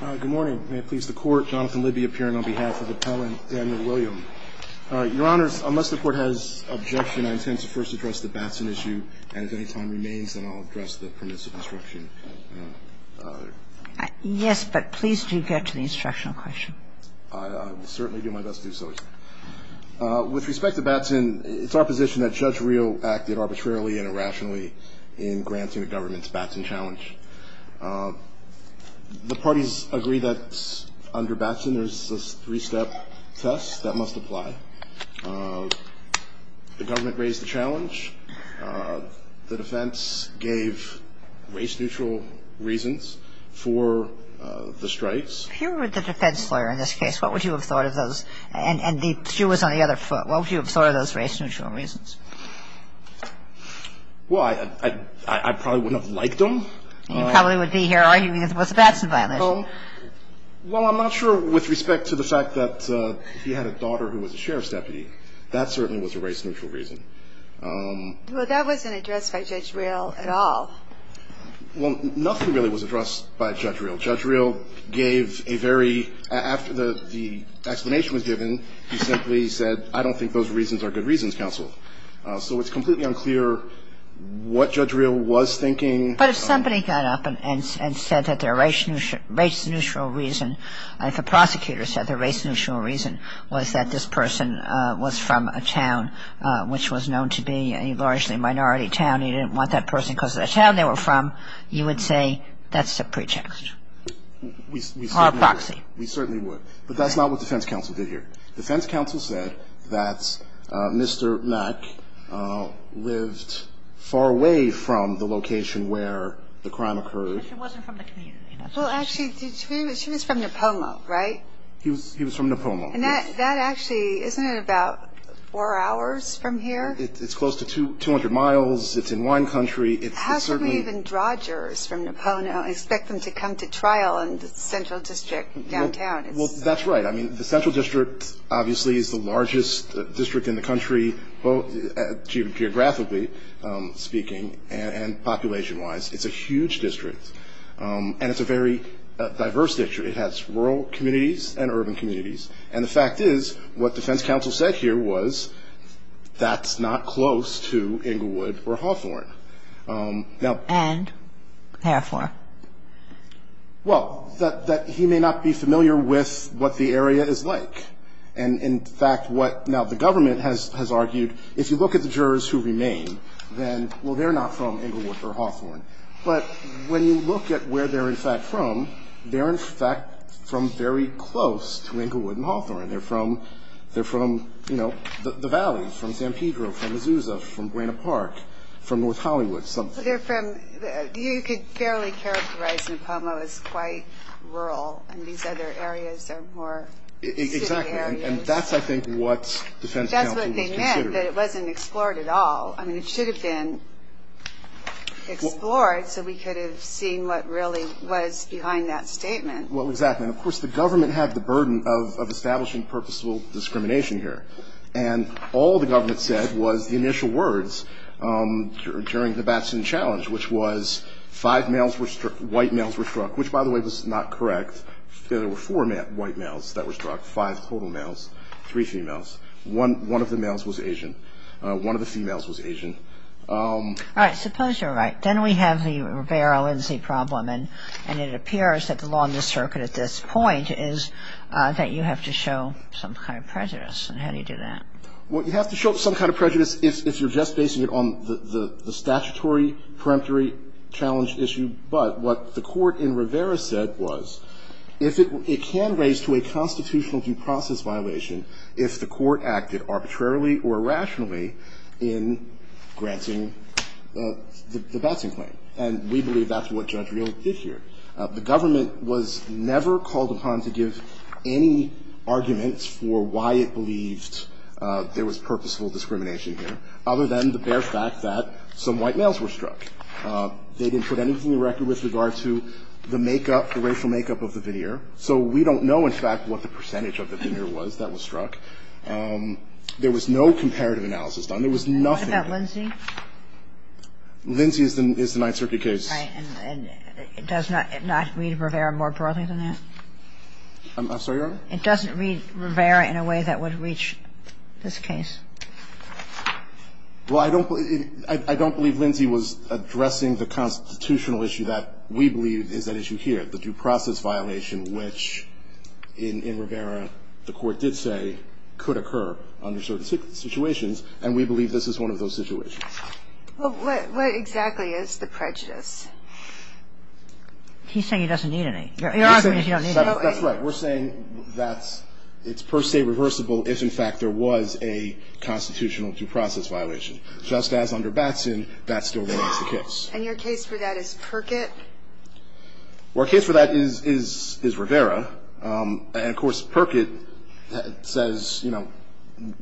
Good morning. May it please the Court, Jonathan Lidby appearing on behalf of Appellant Daniel William. Your Honors, unless the Court has objection, I intend to first address the Batson issue, and if any time remains, then I'll address the Permits of Instruction. Yes, but please do get to the instructional question. I will certainly do my best to do so, Your Honor. With respect to Batson, it's our position that Judge Rio acted arbitrarily and irrationally in granting the government's Batson challenge. The parties agree that under Batson there's a three-step test that must apply. The government raised the challenge. The defense gave race-neutral reasons for the strikes. If you were the defense lawyer in this case, what would you have thought of those? And she was on the other foot. What would you have thought of those race-neutral reasons? Well, I probably wouldn't have liked them. You probably would be here arguing it was a Batson violation. Well, I'm not sure with respect to the fact that he had a daughter who was a sheriff's deputy. That certainly was a race-neutral reason. Well, that wasn't addressed by Judge Rio at all. Well, nothing really was addressed by Judge Rio. Judge Rio gave a very ‑‑ after the explanation was given, he simply said, I don't think those reasons are good reasons, counsel. So it's completely unclear what Judge Rio was thinking. But if somebody got up and said that their race-neutral reason, if a prosecutor said their race-neutral reason was that this person was from a town which was known to be a largely minority town, you didn't want that person because of the town they were from, you would say that's a pretext. We certainly would. Or a proxy. We certainly would. But that's not what defense counsel did here. Defense counsel said that Mr. Mack lived far away from the location where the crime occurred. But she wasn't from the community. Well, actually, she was from Napomo, right? He was from Napomo, yes. And that actually, isn't it about four hours from here? It's close to 200 miles. It's in wine country. How can we even draw jurors from Napomo and expect them to come to trial in the central district downtown? Well, that's right. I mean, the central district obviously is the largest district in the country, geographically speaking, and population-wise. It's a huge district. And it's a very diverse district. It has rural communities and urban communities. And the fact is, what defense counsel said here was that's not close to Inglewood or Hawthorne. And? And? Therefore? Well, that he may not be familiar with what the area is like. And in fact, what now the government has argued, if you look at the jurors who remain, then, well, they're not from Inglewood or Hawthorne. But when you look at where they're, in fact, from, they're, in fact, from very close to Inglewood and Hawthorne. They're from, you know, the valleys, from San Pedro, from Azusa, from Buena Park, from North Hollywood, something. They're from, you could fairly characterize Napomo as quite rural. And these other areas are more city areas. Exactly. And that's, I think, what defense counsel was considering. That's what they meant, that it wasn't explored at all. I mean, it should have been explored so we could have seen what really was behind that statement. Well, exactly. And, of course, the government had the burden of establishing purposeful discrimination here. And all the government said was the initial words during the Batson challenge, which was five males were struck, white males were struck, which, by the way, was not correct. There were four white males that were struck, five total males, three females. One of the males was Asian. One of the females was Asian. All right. Suppose you're right. Then we have the Rivera-Lindsay problem. And it appears that the law in this circuit at this point is that you have to show some kind of prejudice. And how do you do that? Well, you have to show some kind of prejudice if you're just basing it on the statutory, peremptory challenge issue. But what the court in Rivera said was if it can raise to a constitutional due process violation if the court acted arbitrarily or irrationally in granting the Batson claim. And we believe that's what Judge Reel did here. The government was never called upon to give any arguments for why it believed there was purposeful discrimination here, other than the bare fact that some white males were struck. They didn't put anything on the record with regard to the makeup, the racial makeup of the veneer. So we don't know, in fact, what the percentage of the veneer was that was struck. There was no comparative analysis done. There was nothing. What about Lindsay? Lindsay is the Ninth Circuit case. Right. And it does not read Rivera more broadly than that? I'm sorry, Your Honor? It doesn't read Rivera in a way that would reach this case. Well, I don't believe Lindsay was addressing the constitutional issue that we believe is at issue here. We believe that there was a constitutional due process violation, which in Rivera the court did say could occur under certain situations, and we believe this is one of those situations. Well, what exactly is the prejudice? He's saying he doesn't need any. You're arguing he doesn't need any. That's right. We're saying that it's per se reversible if, in fact, there was a constitutional due process violation. I don't believe that he's saying that there's a constitutional due process violation, but it's not a constitutional duty, just as under Batson that still remains the case. And your case for that is Perkett? Well, our case for that is Rivera. And of course, Perkett says, you know,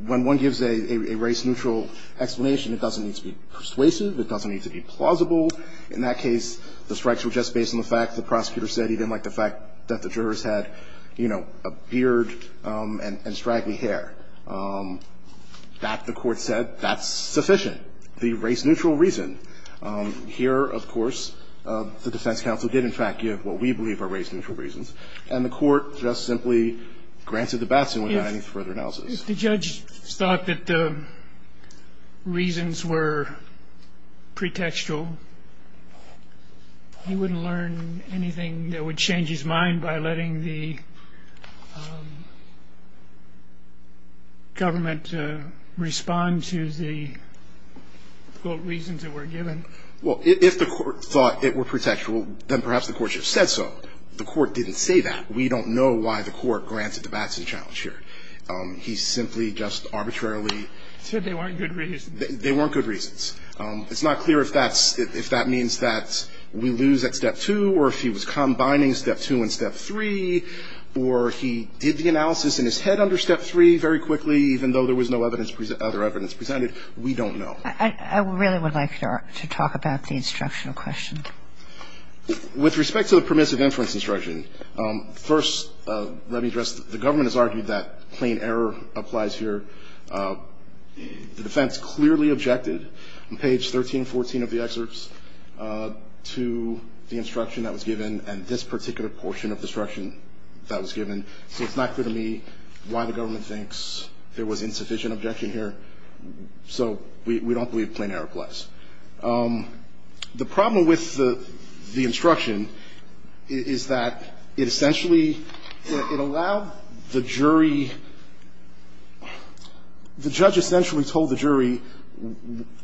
when one gives a race-neutral explanation, it doesn't need to be persuasive. It doesn't need to be plausible. In that case, the strikes were just based on the fact the prosecutor said he didn't like the fact that the jurors had, you know, a beard and straggly hair. That, the Court said, that's sufficient, the race-neutral reason. Here, of course, the defense counsel did in fact give what we believe are race-neutral reasons, and the Court just simply granted to Batson without any further analysis. If the judge thought that the reasons were pretextual, he wouldn't learn anything that would change his mind by letting the government respond to the, quote, reasons that were given? Well, if the Court thought it were pretextual, then perhaps the Court should have said so. The Court didn't say that. We don't know why the Court granted the Batson challenge here. He simply just arbitrarily said they weren't good reasons. They weren't good reasons. It's not clear if that's, if that means that we lose at Step 2 or if he was combining Step 2 and Step 3 or he did the analysis in his head under Step 3 very quickly, even though there was no other evidence presented. We don't know. I really would like to talk about the instructional question. With respect to the permissive inference instruction, first, let me address this. The government has argued that plain error applies here. The defense clearly objected on page 1314 of the excerpts to the instruction that was given and this particular portion of the instruction that was given. So it's not clear to me why the government thinks there was insufficient objection here. So we don't believe plain error applies. The problem with the instruction is that it essentially, it allowed the jury, the judge essentially told the jury,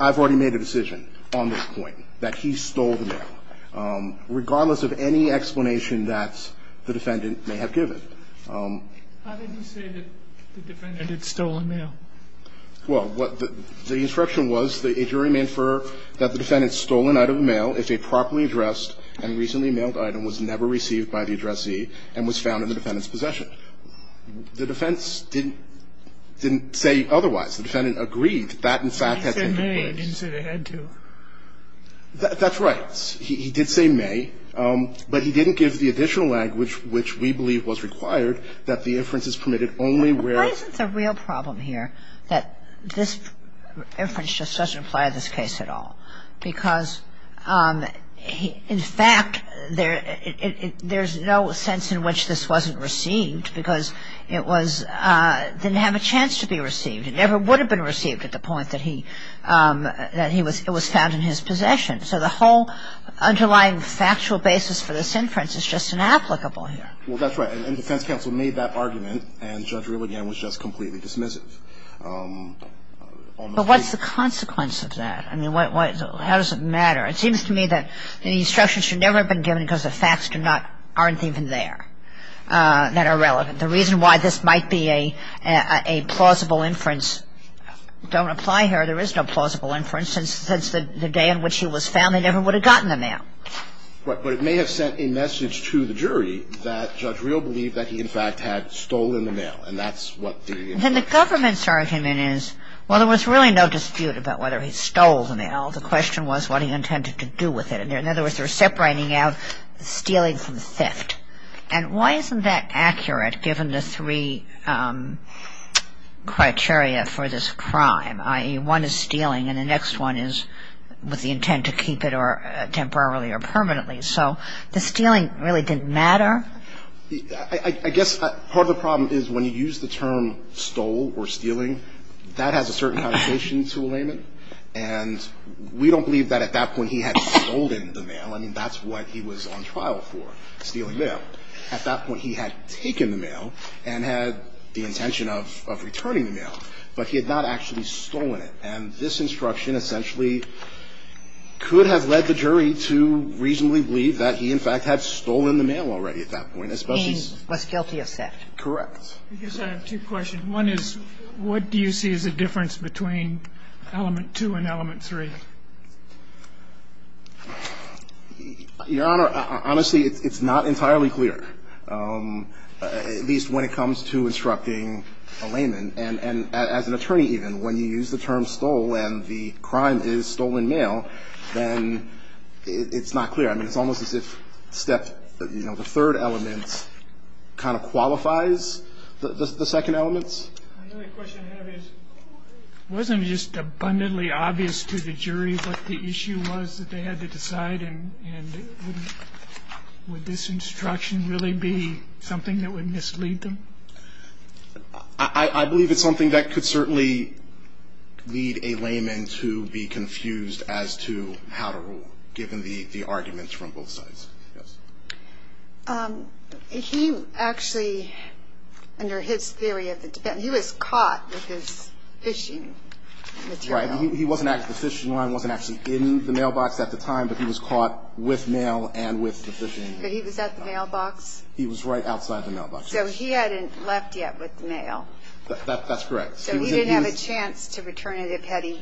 I've already made a decision on this point, that he stole the mail, regardless of any explanation that the defendant may have given. How did he say that the defendant had stolen mail? Well, the instruction was that a jury may infer that the defendant stole an item of mail if a properly addressed and recently mailed item was never received by the addressee and was found in the defendant's possession. The defense didn't say otherwise. The defendant agreed that in fact had taken place. He didn't say may. He didn't say they had to. That's right. He did say may, but he didn't give the additional language which we believe was required that the inference is permitted only where. Why isn't the real problem here that this inference just doesn't apply to this case at all? Because in fact, there's no sense in which this wasn't received because it was, didn't have a chance to be received. It never would have been received at the point that he, that it was found in his possession. So the whole underlying factual basis for this inference is just inapplicable here. Well, that's right. And the defense counsel made that argument, and Judge Reel, again, was just completely dismissive. But what's the consequence of that? I mean, how does it matter? It seems to me that the instruction should never have been given because the facts do not, aren't even there, that are relevant. The reason why this might be a plausible inference, don't apply here. There is no plausible inference. Since the day in which he was found, they never would have gotten the mail. But it may have sent a message to the jury that Judge Reel believed that he, in fact, had stolen the mail. And that's what the inference is. Then the government's argument is, well, there was really no dispute about whether he stole the mail. The question was what he intended to do with it. In other words, they were separating out stealing from theft. And why isn't that accurate given the three criteria for this crime, i.e., one is stealing and the next one is with the intent to keep it temporarily or permanently? So the stealing really didn't matter? I guess part of the problem is when you use the term stole or stealing, that has a certain connotation to a layman. And we don't believe that at that point he had stolen the mail. I mean, that's what he was on trial for, stealing mail. At that point, he had taken the mail and had the intention of returning the mail. But he had not actually stolen it. And this instruction essentially could have led the jury to reasonably believe that he, in fact, had stolen the mail already at that point. He was guilty of theft. Correct. I guess I have two questions. One is what do you see as a difference between element two and element three? Your Honor, honestly, it's not entirely clear, at least when it comes to instructing And as an attorney even, when you use the term stole and the crime is stolen mail, then it's not clear. I mean, it's almost as if step, you know, the third element kind of qualifies the second element. The only question I have is wasn't it just abundantly obvious to the jury what the issue was that they had to decide? And would this instruction really be something that would mislead them? I believe it's something that could certainly lead a layman to be confused as to how to rule, given the arguments from both sides. Yes. He actually, under his theory of the defense, he was caught with his phishing material. Right. He wasn't actually, the phishing line wasn't actually in the mailbox at the time, but he was caught with mail and with the phishing. But he was at the mailbox? He was right outside the mailbox. So he hadn't left yet with the mail? That's correct. So he didn't have a chance to return it had he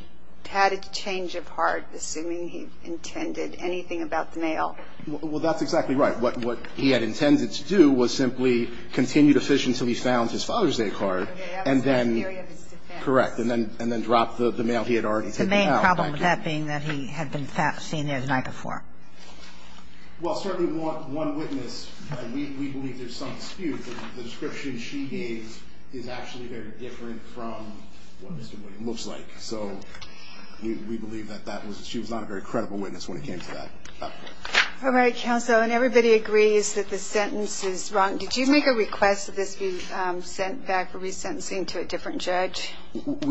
had a change of heart, assuming he intended anything about the mail? Well, that's exactly right. What he had intended to do was simply continue to phish until he found his Father's Day card. Okay. That was his theory of his defense. Correct. And then drop the mail he had already taken out. The main problem with that being that he had been seen there the night before. Well, certainly one witness, we believe there's some dispute. The description she gave is actually very different from what Mr. Wooden looks like. So we believe that she was not a very credible witness when it came to that. All right, counsel, and everybody agrees that the sentence is wrong. Did you make a request that this be sent back for resentencing to a different judge?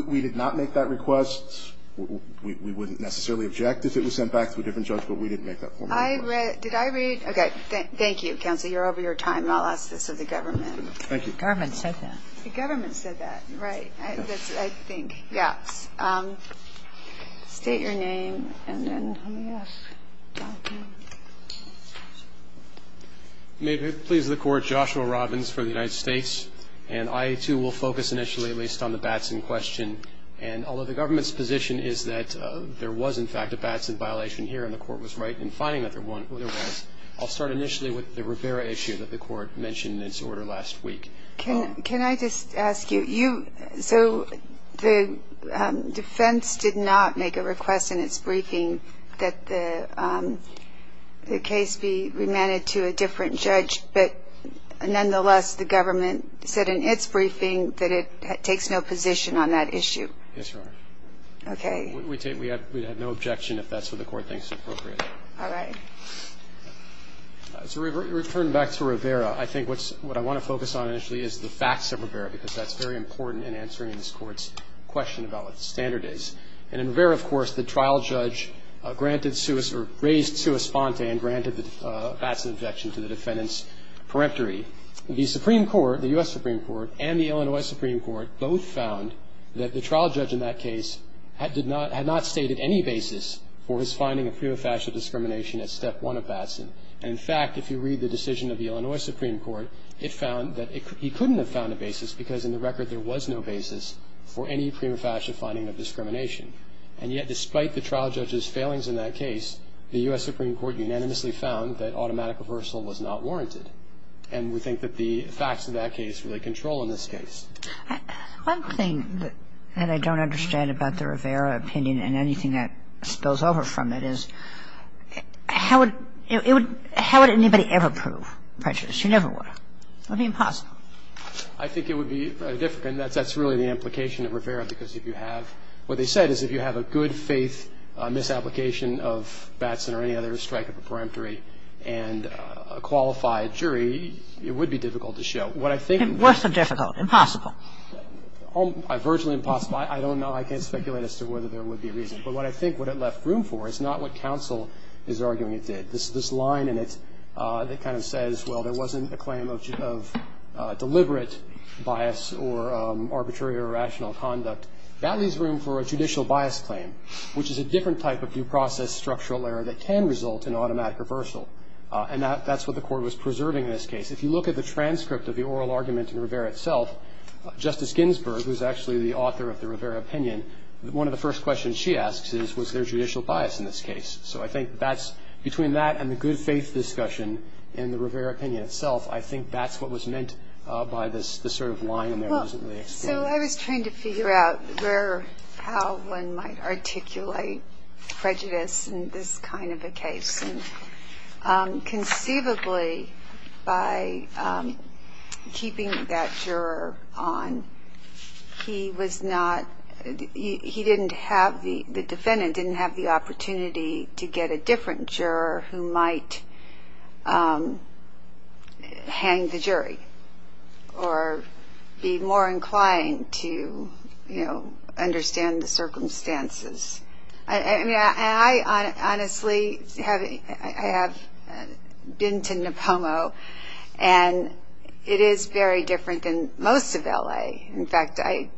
We did not make that request. We wouldn't necessarily object if it was sent back to a different judge, but we didn't make that formal request. Did I read? Okay, thank you, counsel. You're over your time, and I'll ask this of the government. Thank you. The government said that. The government said that. Right. I think. Yes. State your name and then let me ask. May it please the Court, Joshua Robbins for the United States. And I, too, will focus initially at least on the bats in question. And although the government's position is that there was, in fact, a bats in violation here, and the Court was right in finding that there was, I'll start initially with the Rivera issue that the Court mentioned in its order last week. Can I just ask you? So the defense did not make a request in its briefing that the case be remanded to a different judge, but nonetheless, the government said in its briefing that it takes no position on that issue. Yes, Your Honor. Okay. We have no objection if that's what the Court thinks is appropriate. All right. So returning back to Rivera, I think what I want to focus on initially is the facts of Rivera, because that's very important in answering this Court's question about what the standard is. And in Rivera, of course, the trial judge granted or raised sua sponte and granted the bats in objection to the defendant's peremptory. The Supreme Court, the U.S. Supreme Court, and the Illinois Supreme Court both found that the trial judge in that case had not stated any basis for his finding of prima facie discrimination at Step 1 of Batson. And, in fact, if you read the decision of the Illinois Supreme Court, it found that he couldn't have found a basis because, in the record, there was no basis for any prima facie finding of discrimination. And yet, despite the trial judge's failings in that case, the U.S. Supreme Court unanimously found that automatic reversal was not warranted. And we think that the facts of that case really control in this case. One thing that I don't understand about the Rivera opinion, and anything that spills over from it, is how would anybody ever prove prejudice? You never would. It would be impossible. What they said is if you have a good faith misapplication of Batson or any other strike of the peremptory and a qualified jury, it would be difficult to show. Worse than difficult? Impossible? Virtually impossible. I don't know. I can't speculate as to whether there would be a reason. But what I think what it left room for is not what counsel is arguing it did. This line in it that kind of says, well, there wasn't a claim of deliberate bias or arbitrary or irrational conduct, that leaves room for a judicial bias claim, which is a different type of due process structural error that can result in automatic reversal. And that's what the court was preserving in this case. If you look at the transcript of the oral argument in Rivera itself, Justice Ginsburg, who is actually the author of the Rivera opinion, one of the first questions she asks is, was there judicial bias in this case? So I think between that and the good faith discussion in the Rivera opinion itself, I think that's what was meant by this sort of line in there that wasn't really explained. So I was trying to figure out how one might articulate prejudice in this kind of a case. And conceivably, by keeping that juror on, he didn't have the defendant didn't have the opportunity to get a different juror who might hang the jury or be more inclined to, you know, understand the circumstances. I mean, I honestly have been to Nipomo, and it is very different than most of L.A. In fact, I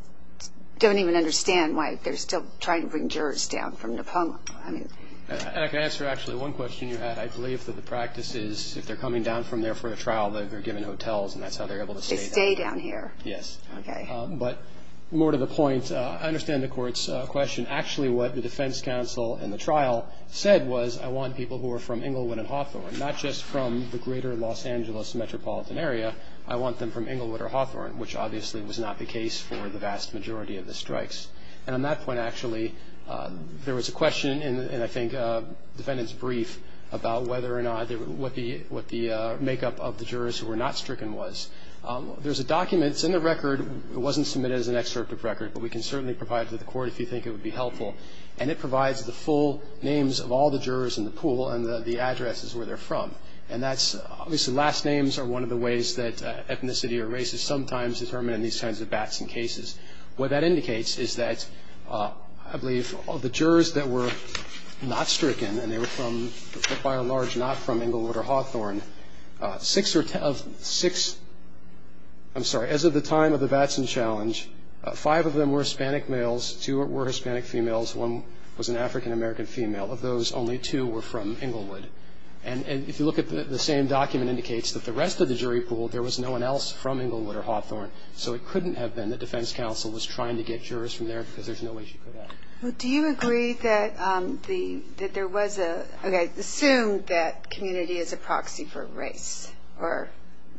don't even understand why they're still trying to bring jurors down from Nipomo. And I can answer actually one question you had. I believe that the practice is if they're coming down from there for a trial, they're given hotels, and that's how they're able to stay down. They stay down here. Yes. Okay. But more to the point, I understand the Court's question. Actually, what the defense counsel in the trial said was, I want people who are from Englewood and Hawthorne, not just from the greater Los Angeles metropolitan area. I want them from Englewood or Hawthorne, which obviously was not the case for the vast majority of the strikes. And on that point, actually, there was a question in, I think, the defendant's brief about whether or not, what the makeup of the jurors who were not stricken was. There's a document. It's in the record. It wasn't submitted as an excerpt of record, but we can certainly provide it to the Court if you think it would be helpful. And it provides the full names of all the jurors in the pool, and the address is where they're from. And that's obviously last names are one of the ways that ethnicity or race is sometimes determined in these kinds of bats and cases. What that indicates is that, I believe, all the jurors that were not stricken, and they were by and large not from Englewood or Hawthorne, six or ten of six, I'm sorry, as of the time of the Batson Challenge, five of them were Hispanic males, two were Hispanic females, one was an African American female. Of those, only two were from Englewood. And if you look at the same document, it indicates that the rest of the jury pool, there was no one else from Englewood or Hawthorne. So it couldn't have been that defense counsel was trying to get jurors from there because there's no way she could have. Do you agree that there was a, okay, assume that community is a proxy for race or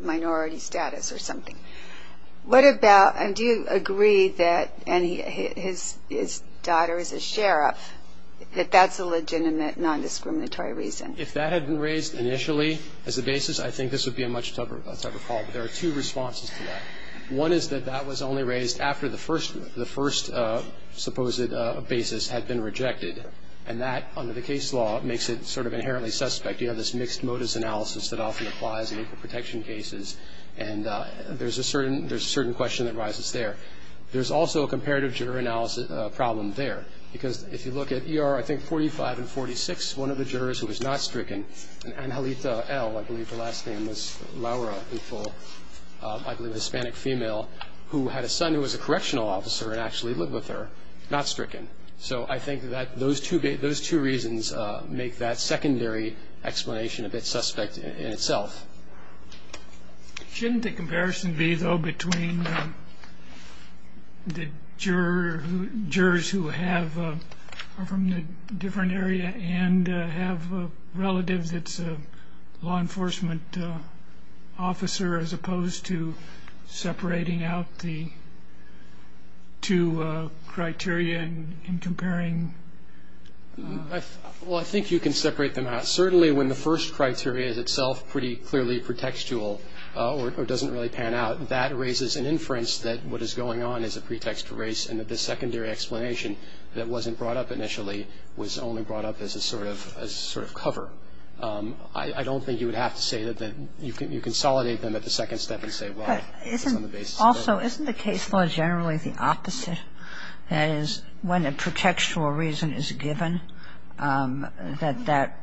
minority status or something. What about, and do you agree that, and his daughter is a sheriff, that that's a legitimate nondiscriminatory reason? If that had been raised initially as a basis, I think this would be a much tougher call. There are two responses to that. One is that that was only raised after the first supposed basis had been rejected, and that, under the case law, makes it sort of inherently suspect. You have this mixed motives analysis that often applies in equal protection cases, and there's a certain question that rises there. There's also a comparative juror analysis problem there, because if you look at ER, I think, 45 and 46, one of the jurors who was not stricken, Angelita L, I believe her last name was Laura, I believe a Hispanic female who had a son who was a correctional officer and actually lived with her, not stricken. So I think that those two reasons make that secondary explanation a bit suspect in itself. Shouldn't the comparison be, though, between the jurors who are from the different area and have relatives that's a law enforcement officer as opposed to separating out the two criteria and comparing? Well, I think you can separate them out. Certainly when the first criteria is itself pretty clearly pretextual or doesn't really pan out, that raises an inference that what is going on is a pretext race and that this secondary explanation that wasn't brought up initially was only brought up as a sort of cover. I don't think you would have to say that you consolidate them at the second step and say, well, it's on the basis of the first criteria. But also, isn't the case law generally the opposite? That is, when a pretextual reason is given, that that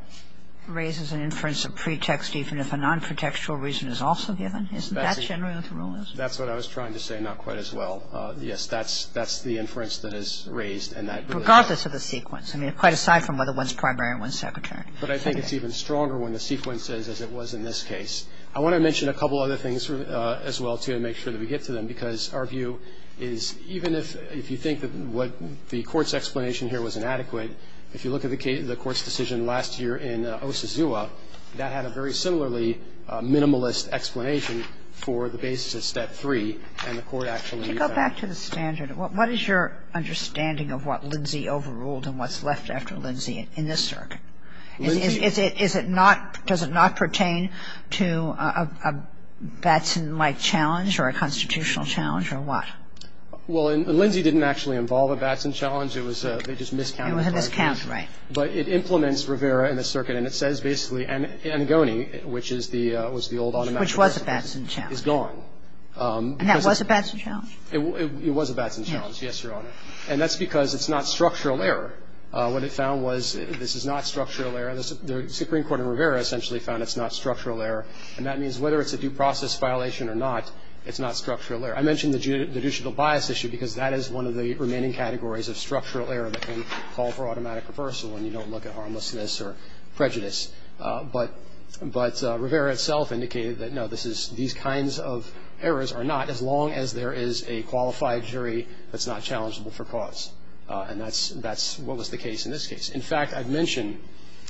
raises an inference of pretext even if a non-pretextual reason is also given? Isn't that generally what the rule is? That's what I was trying to say, not quite as well. Yes, that's the inference that is raised. Regardless of the sequence. I mean, quite aside from whether one's primary and one's secondary. But I think it's even stronger when the sequence is as it was in this case. I want to mention a couple other things as well, too, to make sure that we get to them, because our view is even if you think that what the Court's explanation here was inadequate, if you look at the Court's decision last year in Osazua, that had a very similarly minimalist explanation for the basis of step three, and the Court actually found it. To go back to the standard, what is your understanding of what Lindsay overruled and what's left after Lindsay in this circuit? Is it not, does it not pertain to a Batson-like challenge or a constitutional challenge or what? Well, Lindsay didn't actually involve a Batson challenge. It was a, they just miscounted. It was a miscount, right. But it implements Rivera in this circuit, and it says basically Angoni, which is the, was the old automatic precedent. Which was a Batson challenge. Is gone. And that was a Batson challenge? It was a Batson challenge, yes, Your Honor. And that's because it's not structural error. What it found was this is not structural error. The Supreme Court in Rivera essentially found it's not structural error, and that means whether it's a due process violation or not, it's not structural error. I mentioned the judicial bias issue because that is one of the remaining categories of structural error that can call for automatic reversal when you don't look at harmlessness or prejudice. But Rivera itself indicated that, no, this is, these kinds of errors are not, as long as there is a qualified jury that's not challengeable for cause. And that's what was the case in this case. In fact, I've mentioned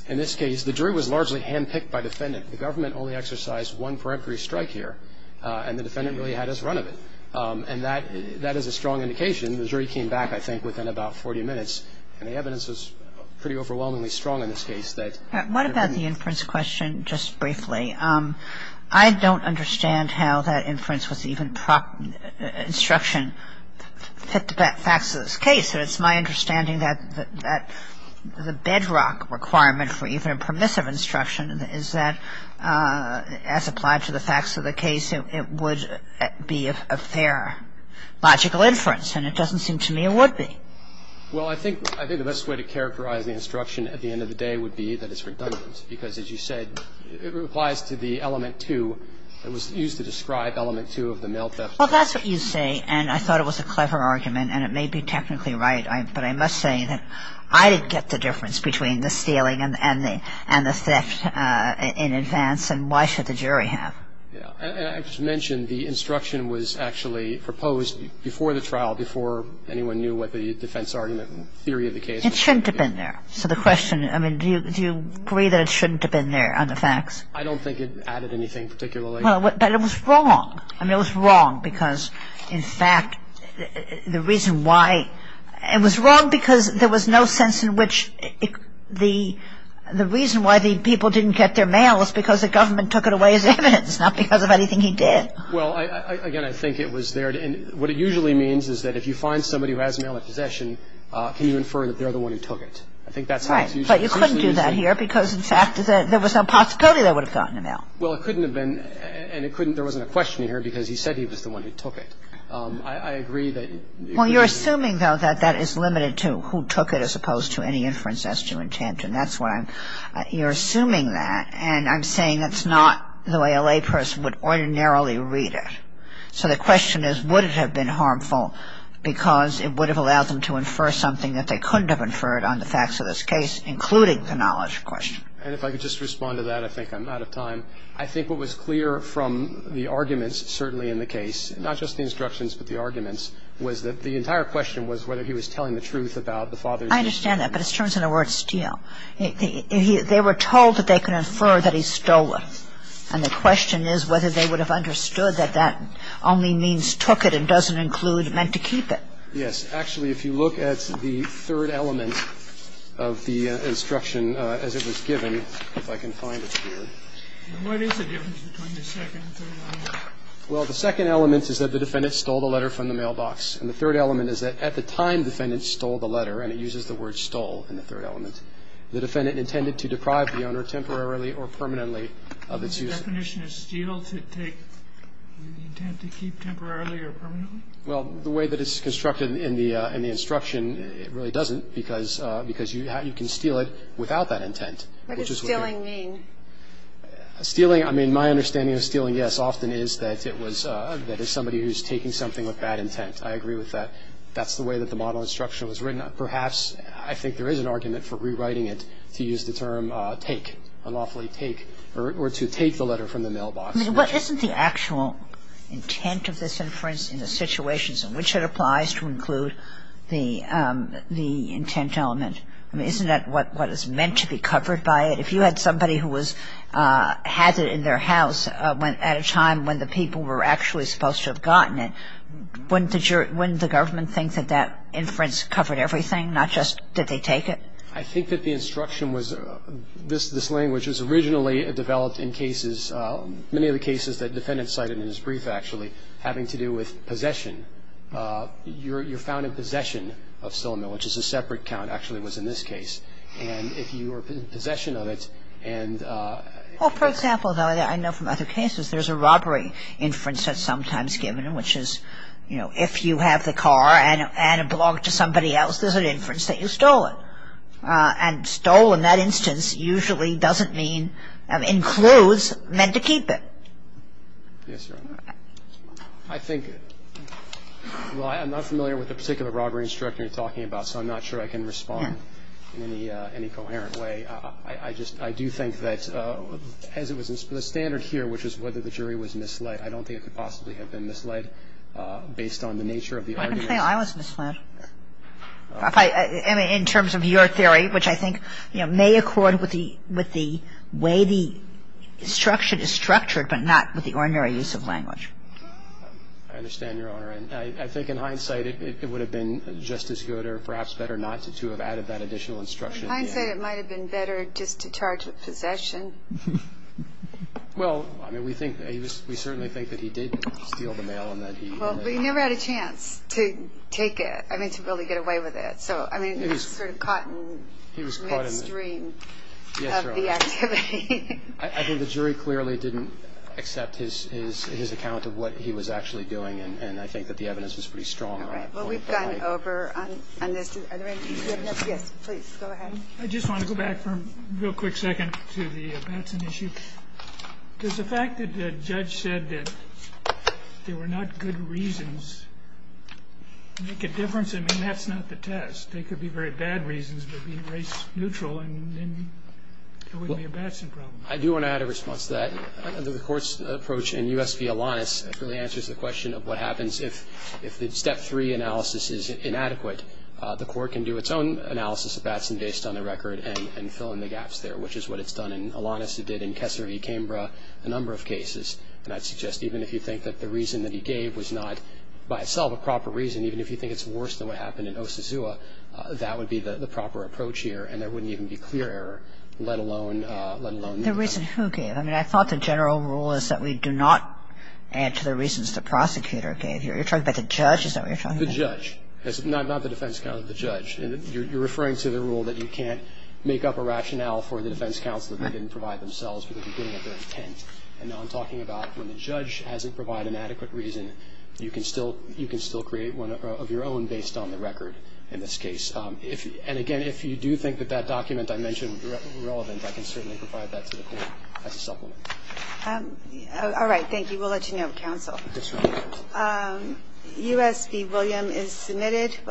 in this case the jury was largely handpicked by defendant. The government only exercised one peremptory strike here, and the defendant really had his run of it. And that is a strong indication. The jury came back, I think, within about 40 minutes, and the evidence was pretty overwhelmingly strong in this case that What about the inference question, just briefly? I don't understand how that inference was even instruction, facts of this case. It's my understanding that the bedrock requirement for even permissive instruction is that, as applied to the facts of the case, it would be a fair, logical inference. And it doesn't seem to me it would be. Well, I think the best way to characterize the instruction at the end of the day would be that it's redundant because, as you said, it applies to the element two that was used to describe element two of the mail theft. Well, that's what you say, and I thought it was a clever argument, and it may be technically right. But I must say that I didn't get the difference between the stealing and the theft in advance, and why should the jury have? I just mentioned the instruction was actually proposed before the trial, before anyone knew what the defense argument and theory of the case was. It shouldn't have been there. So the question, I mean, do you agree that it shouldn't have been there on the facts? I don't think it added anything particularly. But it was wrong. I mean, it was wrong because, in fact, the reason why it was wrong because there was no sense in which the reason why the people didn't get their mail was because the government took it away as evidence, not because of anything he did. Well, again, I think it was there. And what it usually means is that if you find somebody who has mail in possession, can you infer that they're the one who took it. I think that's how it's usually used. Right. But you couldn't do that here because, in fact, there was no possibility they would have gotten the mail. Well, it couldn't have been. And it couldn't. There wasn't a question here because he said he was the one who took it. I agree that it could have been. Well, you're assuming, though, that that is limited to who took it as opposed to any inference as to intent. And that's why you're assuming that. And I'm saying that's not the way a layperson would ordinarily read it. So the question is would it have been harmful because it would have allowed them to infer something that they couldn't have inferred on the facts of this case, including the knowledge question. And if I could just respond to that. I think I'm out of time. I think what was clear from the arguments, certainly in the case, not just the instructions but the arguments, was that the entire question was whether he was telling the truth about the father's death. I understand that. But it's terms in the word steal. They were told that they could infer that he stole it. And the question is whether they would have understood that that only means took it and doesn't include meant to keep it. Yes. Actually, if you look at the third element of the instruction as it was given, if I can find it here. And what is the difference between the second and third element? Well, the second element is that the defendant stole the letter from the mailbox. And the third element is that at the time the defendant stole the letter. And it uses the word stole in the third element. The defendant intended to deprive the owner temporarily or permanently of its use. Is the definition of steal to take the intent to keep temporarily or permanently? Well, the way that it's constructed in the instruction, it really doesn't because you can steal it without that intent. What does stealing mean? Stealing, I mean, my understanding of stealing, yes, often is that it was somebody who's taking something with bad intent. I agree with that. That's the way that the model instruction was written. Perhaps I think there is an argument for rewriting it to use the term take, unlawfully take, or to take the letter from the mailbox. I mean, what isn't the actual intent of this inference in the situations in which it applies to include the intent element? I mean, isn't that what is meant to be covered by it? If you had somebody who had it in their house at a time when the people were actually supposed to have gotten it, wouldn't the government think that that inference covered everything, not just did they take it? I think that the instruction was this language was originally developed in cases many of the cases that the defendant cited in his brief actually having to do with possession. You're found in possession of stolen goods, which is a separate count actually was in this case. And if you were in possession of it and... Well, for example, though, I know from other cases there's a robbery inference that's sometimes given, which is, you know, if you have the car and it belonged to somebody else, there's an inference that you stole it. And stole in that instance usually doesn't mean includes meant to keep it. Yes, Your Honor. I think, well, I'm not familiar with the particular robbery instruction you're talking about, so I'm not sure I can respond in any coherent way. I just, I do think that as it was the standard here, which is whether the jury was misled, I don't think it could possibly have been misled based on the nature of the argument. I don't think I was misled. In terms of your theory, which I think, you know, may accord with the way the instruction is structured, but not with the ordinary use of language. I understand, Your Honor. I think in hindsight it would have been just as good or perhaps better not to have added that additional instruction. In hindsight it might have been better just to charge with possession. Well, I mean, we think, we certainly think that he did steal the mail and that he... Well, but he never had a chance to take it, I mean, to really get away with it. So, I mean, he was sort of caught in midstream of the activity. I think the jury clearly didn't accept his account of what he was actually doing, and I think that the evidence was pretty strong on that point. All right. Well, we've gone over on this. Are there any questions? Yes, please. Go ahead. I just want to go back for a real quick second to the Batson issue. Does the fact that the judge said that they were not good reasons make a difference? I mean, that's not the test. They could be very bad reasons, but being race-neutral, it wouldn't be a Batson problem. I do want to add a response to that. The Court's approach in U.S. v. Alanis really answers the question of what happens if the Step 3 analysis is inadequate. The Court can do its own analysis of Batson based on the record and fill in the gaps there, which is what it's done in Alanis, it did in Kessler v. Cambra, a number of cases. And I'd suggest even if you think that the reason that he gave was not by itself a proper reason, even if you think it's worse than what happened in Osazua, that would be the proper approach here, and there wouldn't even be clear error, let alone the defense. The reason who gave? I mean, I thought the general rule is that we do not add to the reasons the prosecutor gave here. You're talking about the judge? Is that what you're talking about? The judge. Not the defense counsel, the judge. You're referring to the rule that you can't make up a rationale for the defense counsel that they didn't provide themselves for the beginning of their intent. And now I'm talking about when the judge hasn't provided an adequate reason, you can still create one of your own based on the record in this case. And, again, if you do think that that document I mentioned would be relevant, I can certainly provide that to the Court as a supplement. All right. Thank you. We'll let you know, counsel. Yes, Your Honor. U.S. v. William is submitted.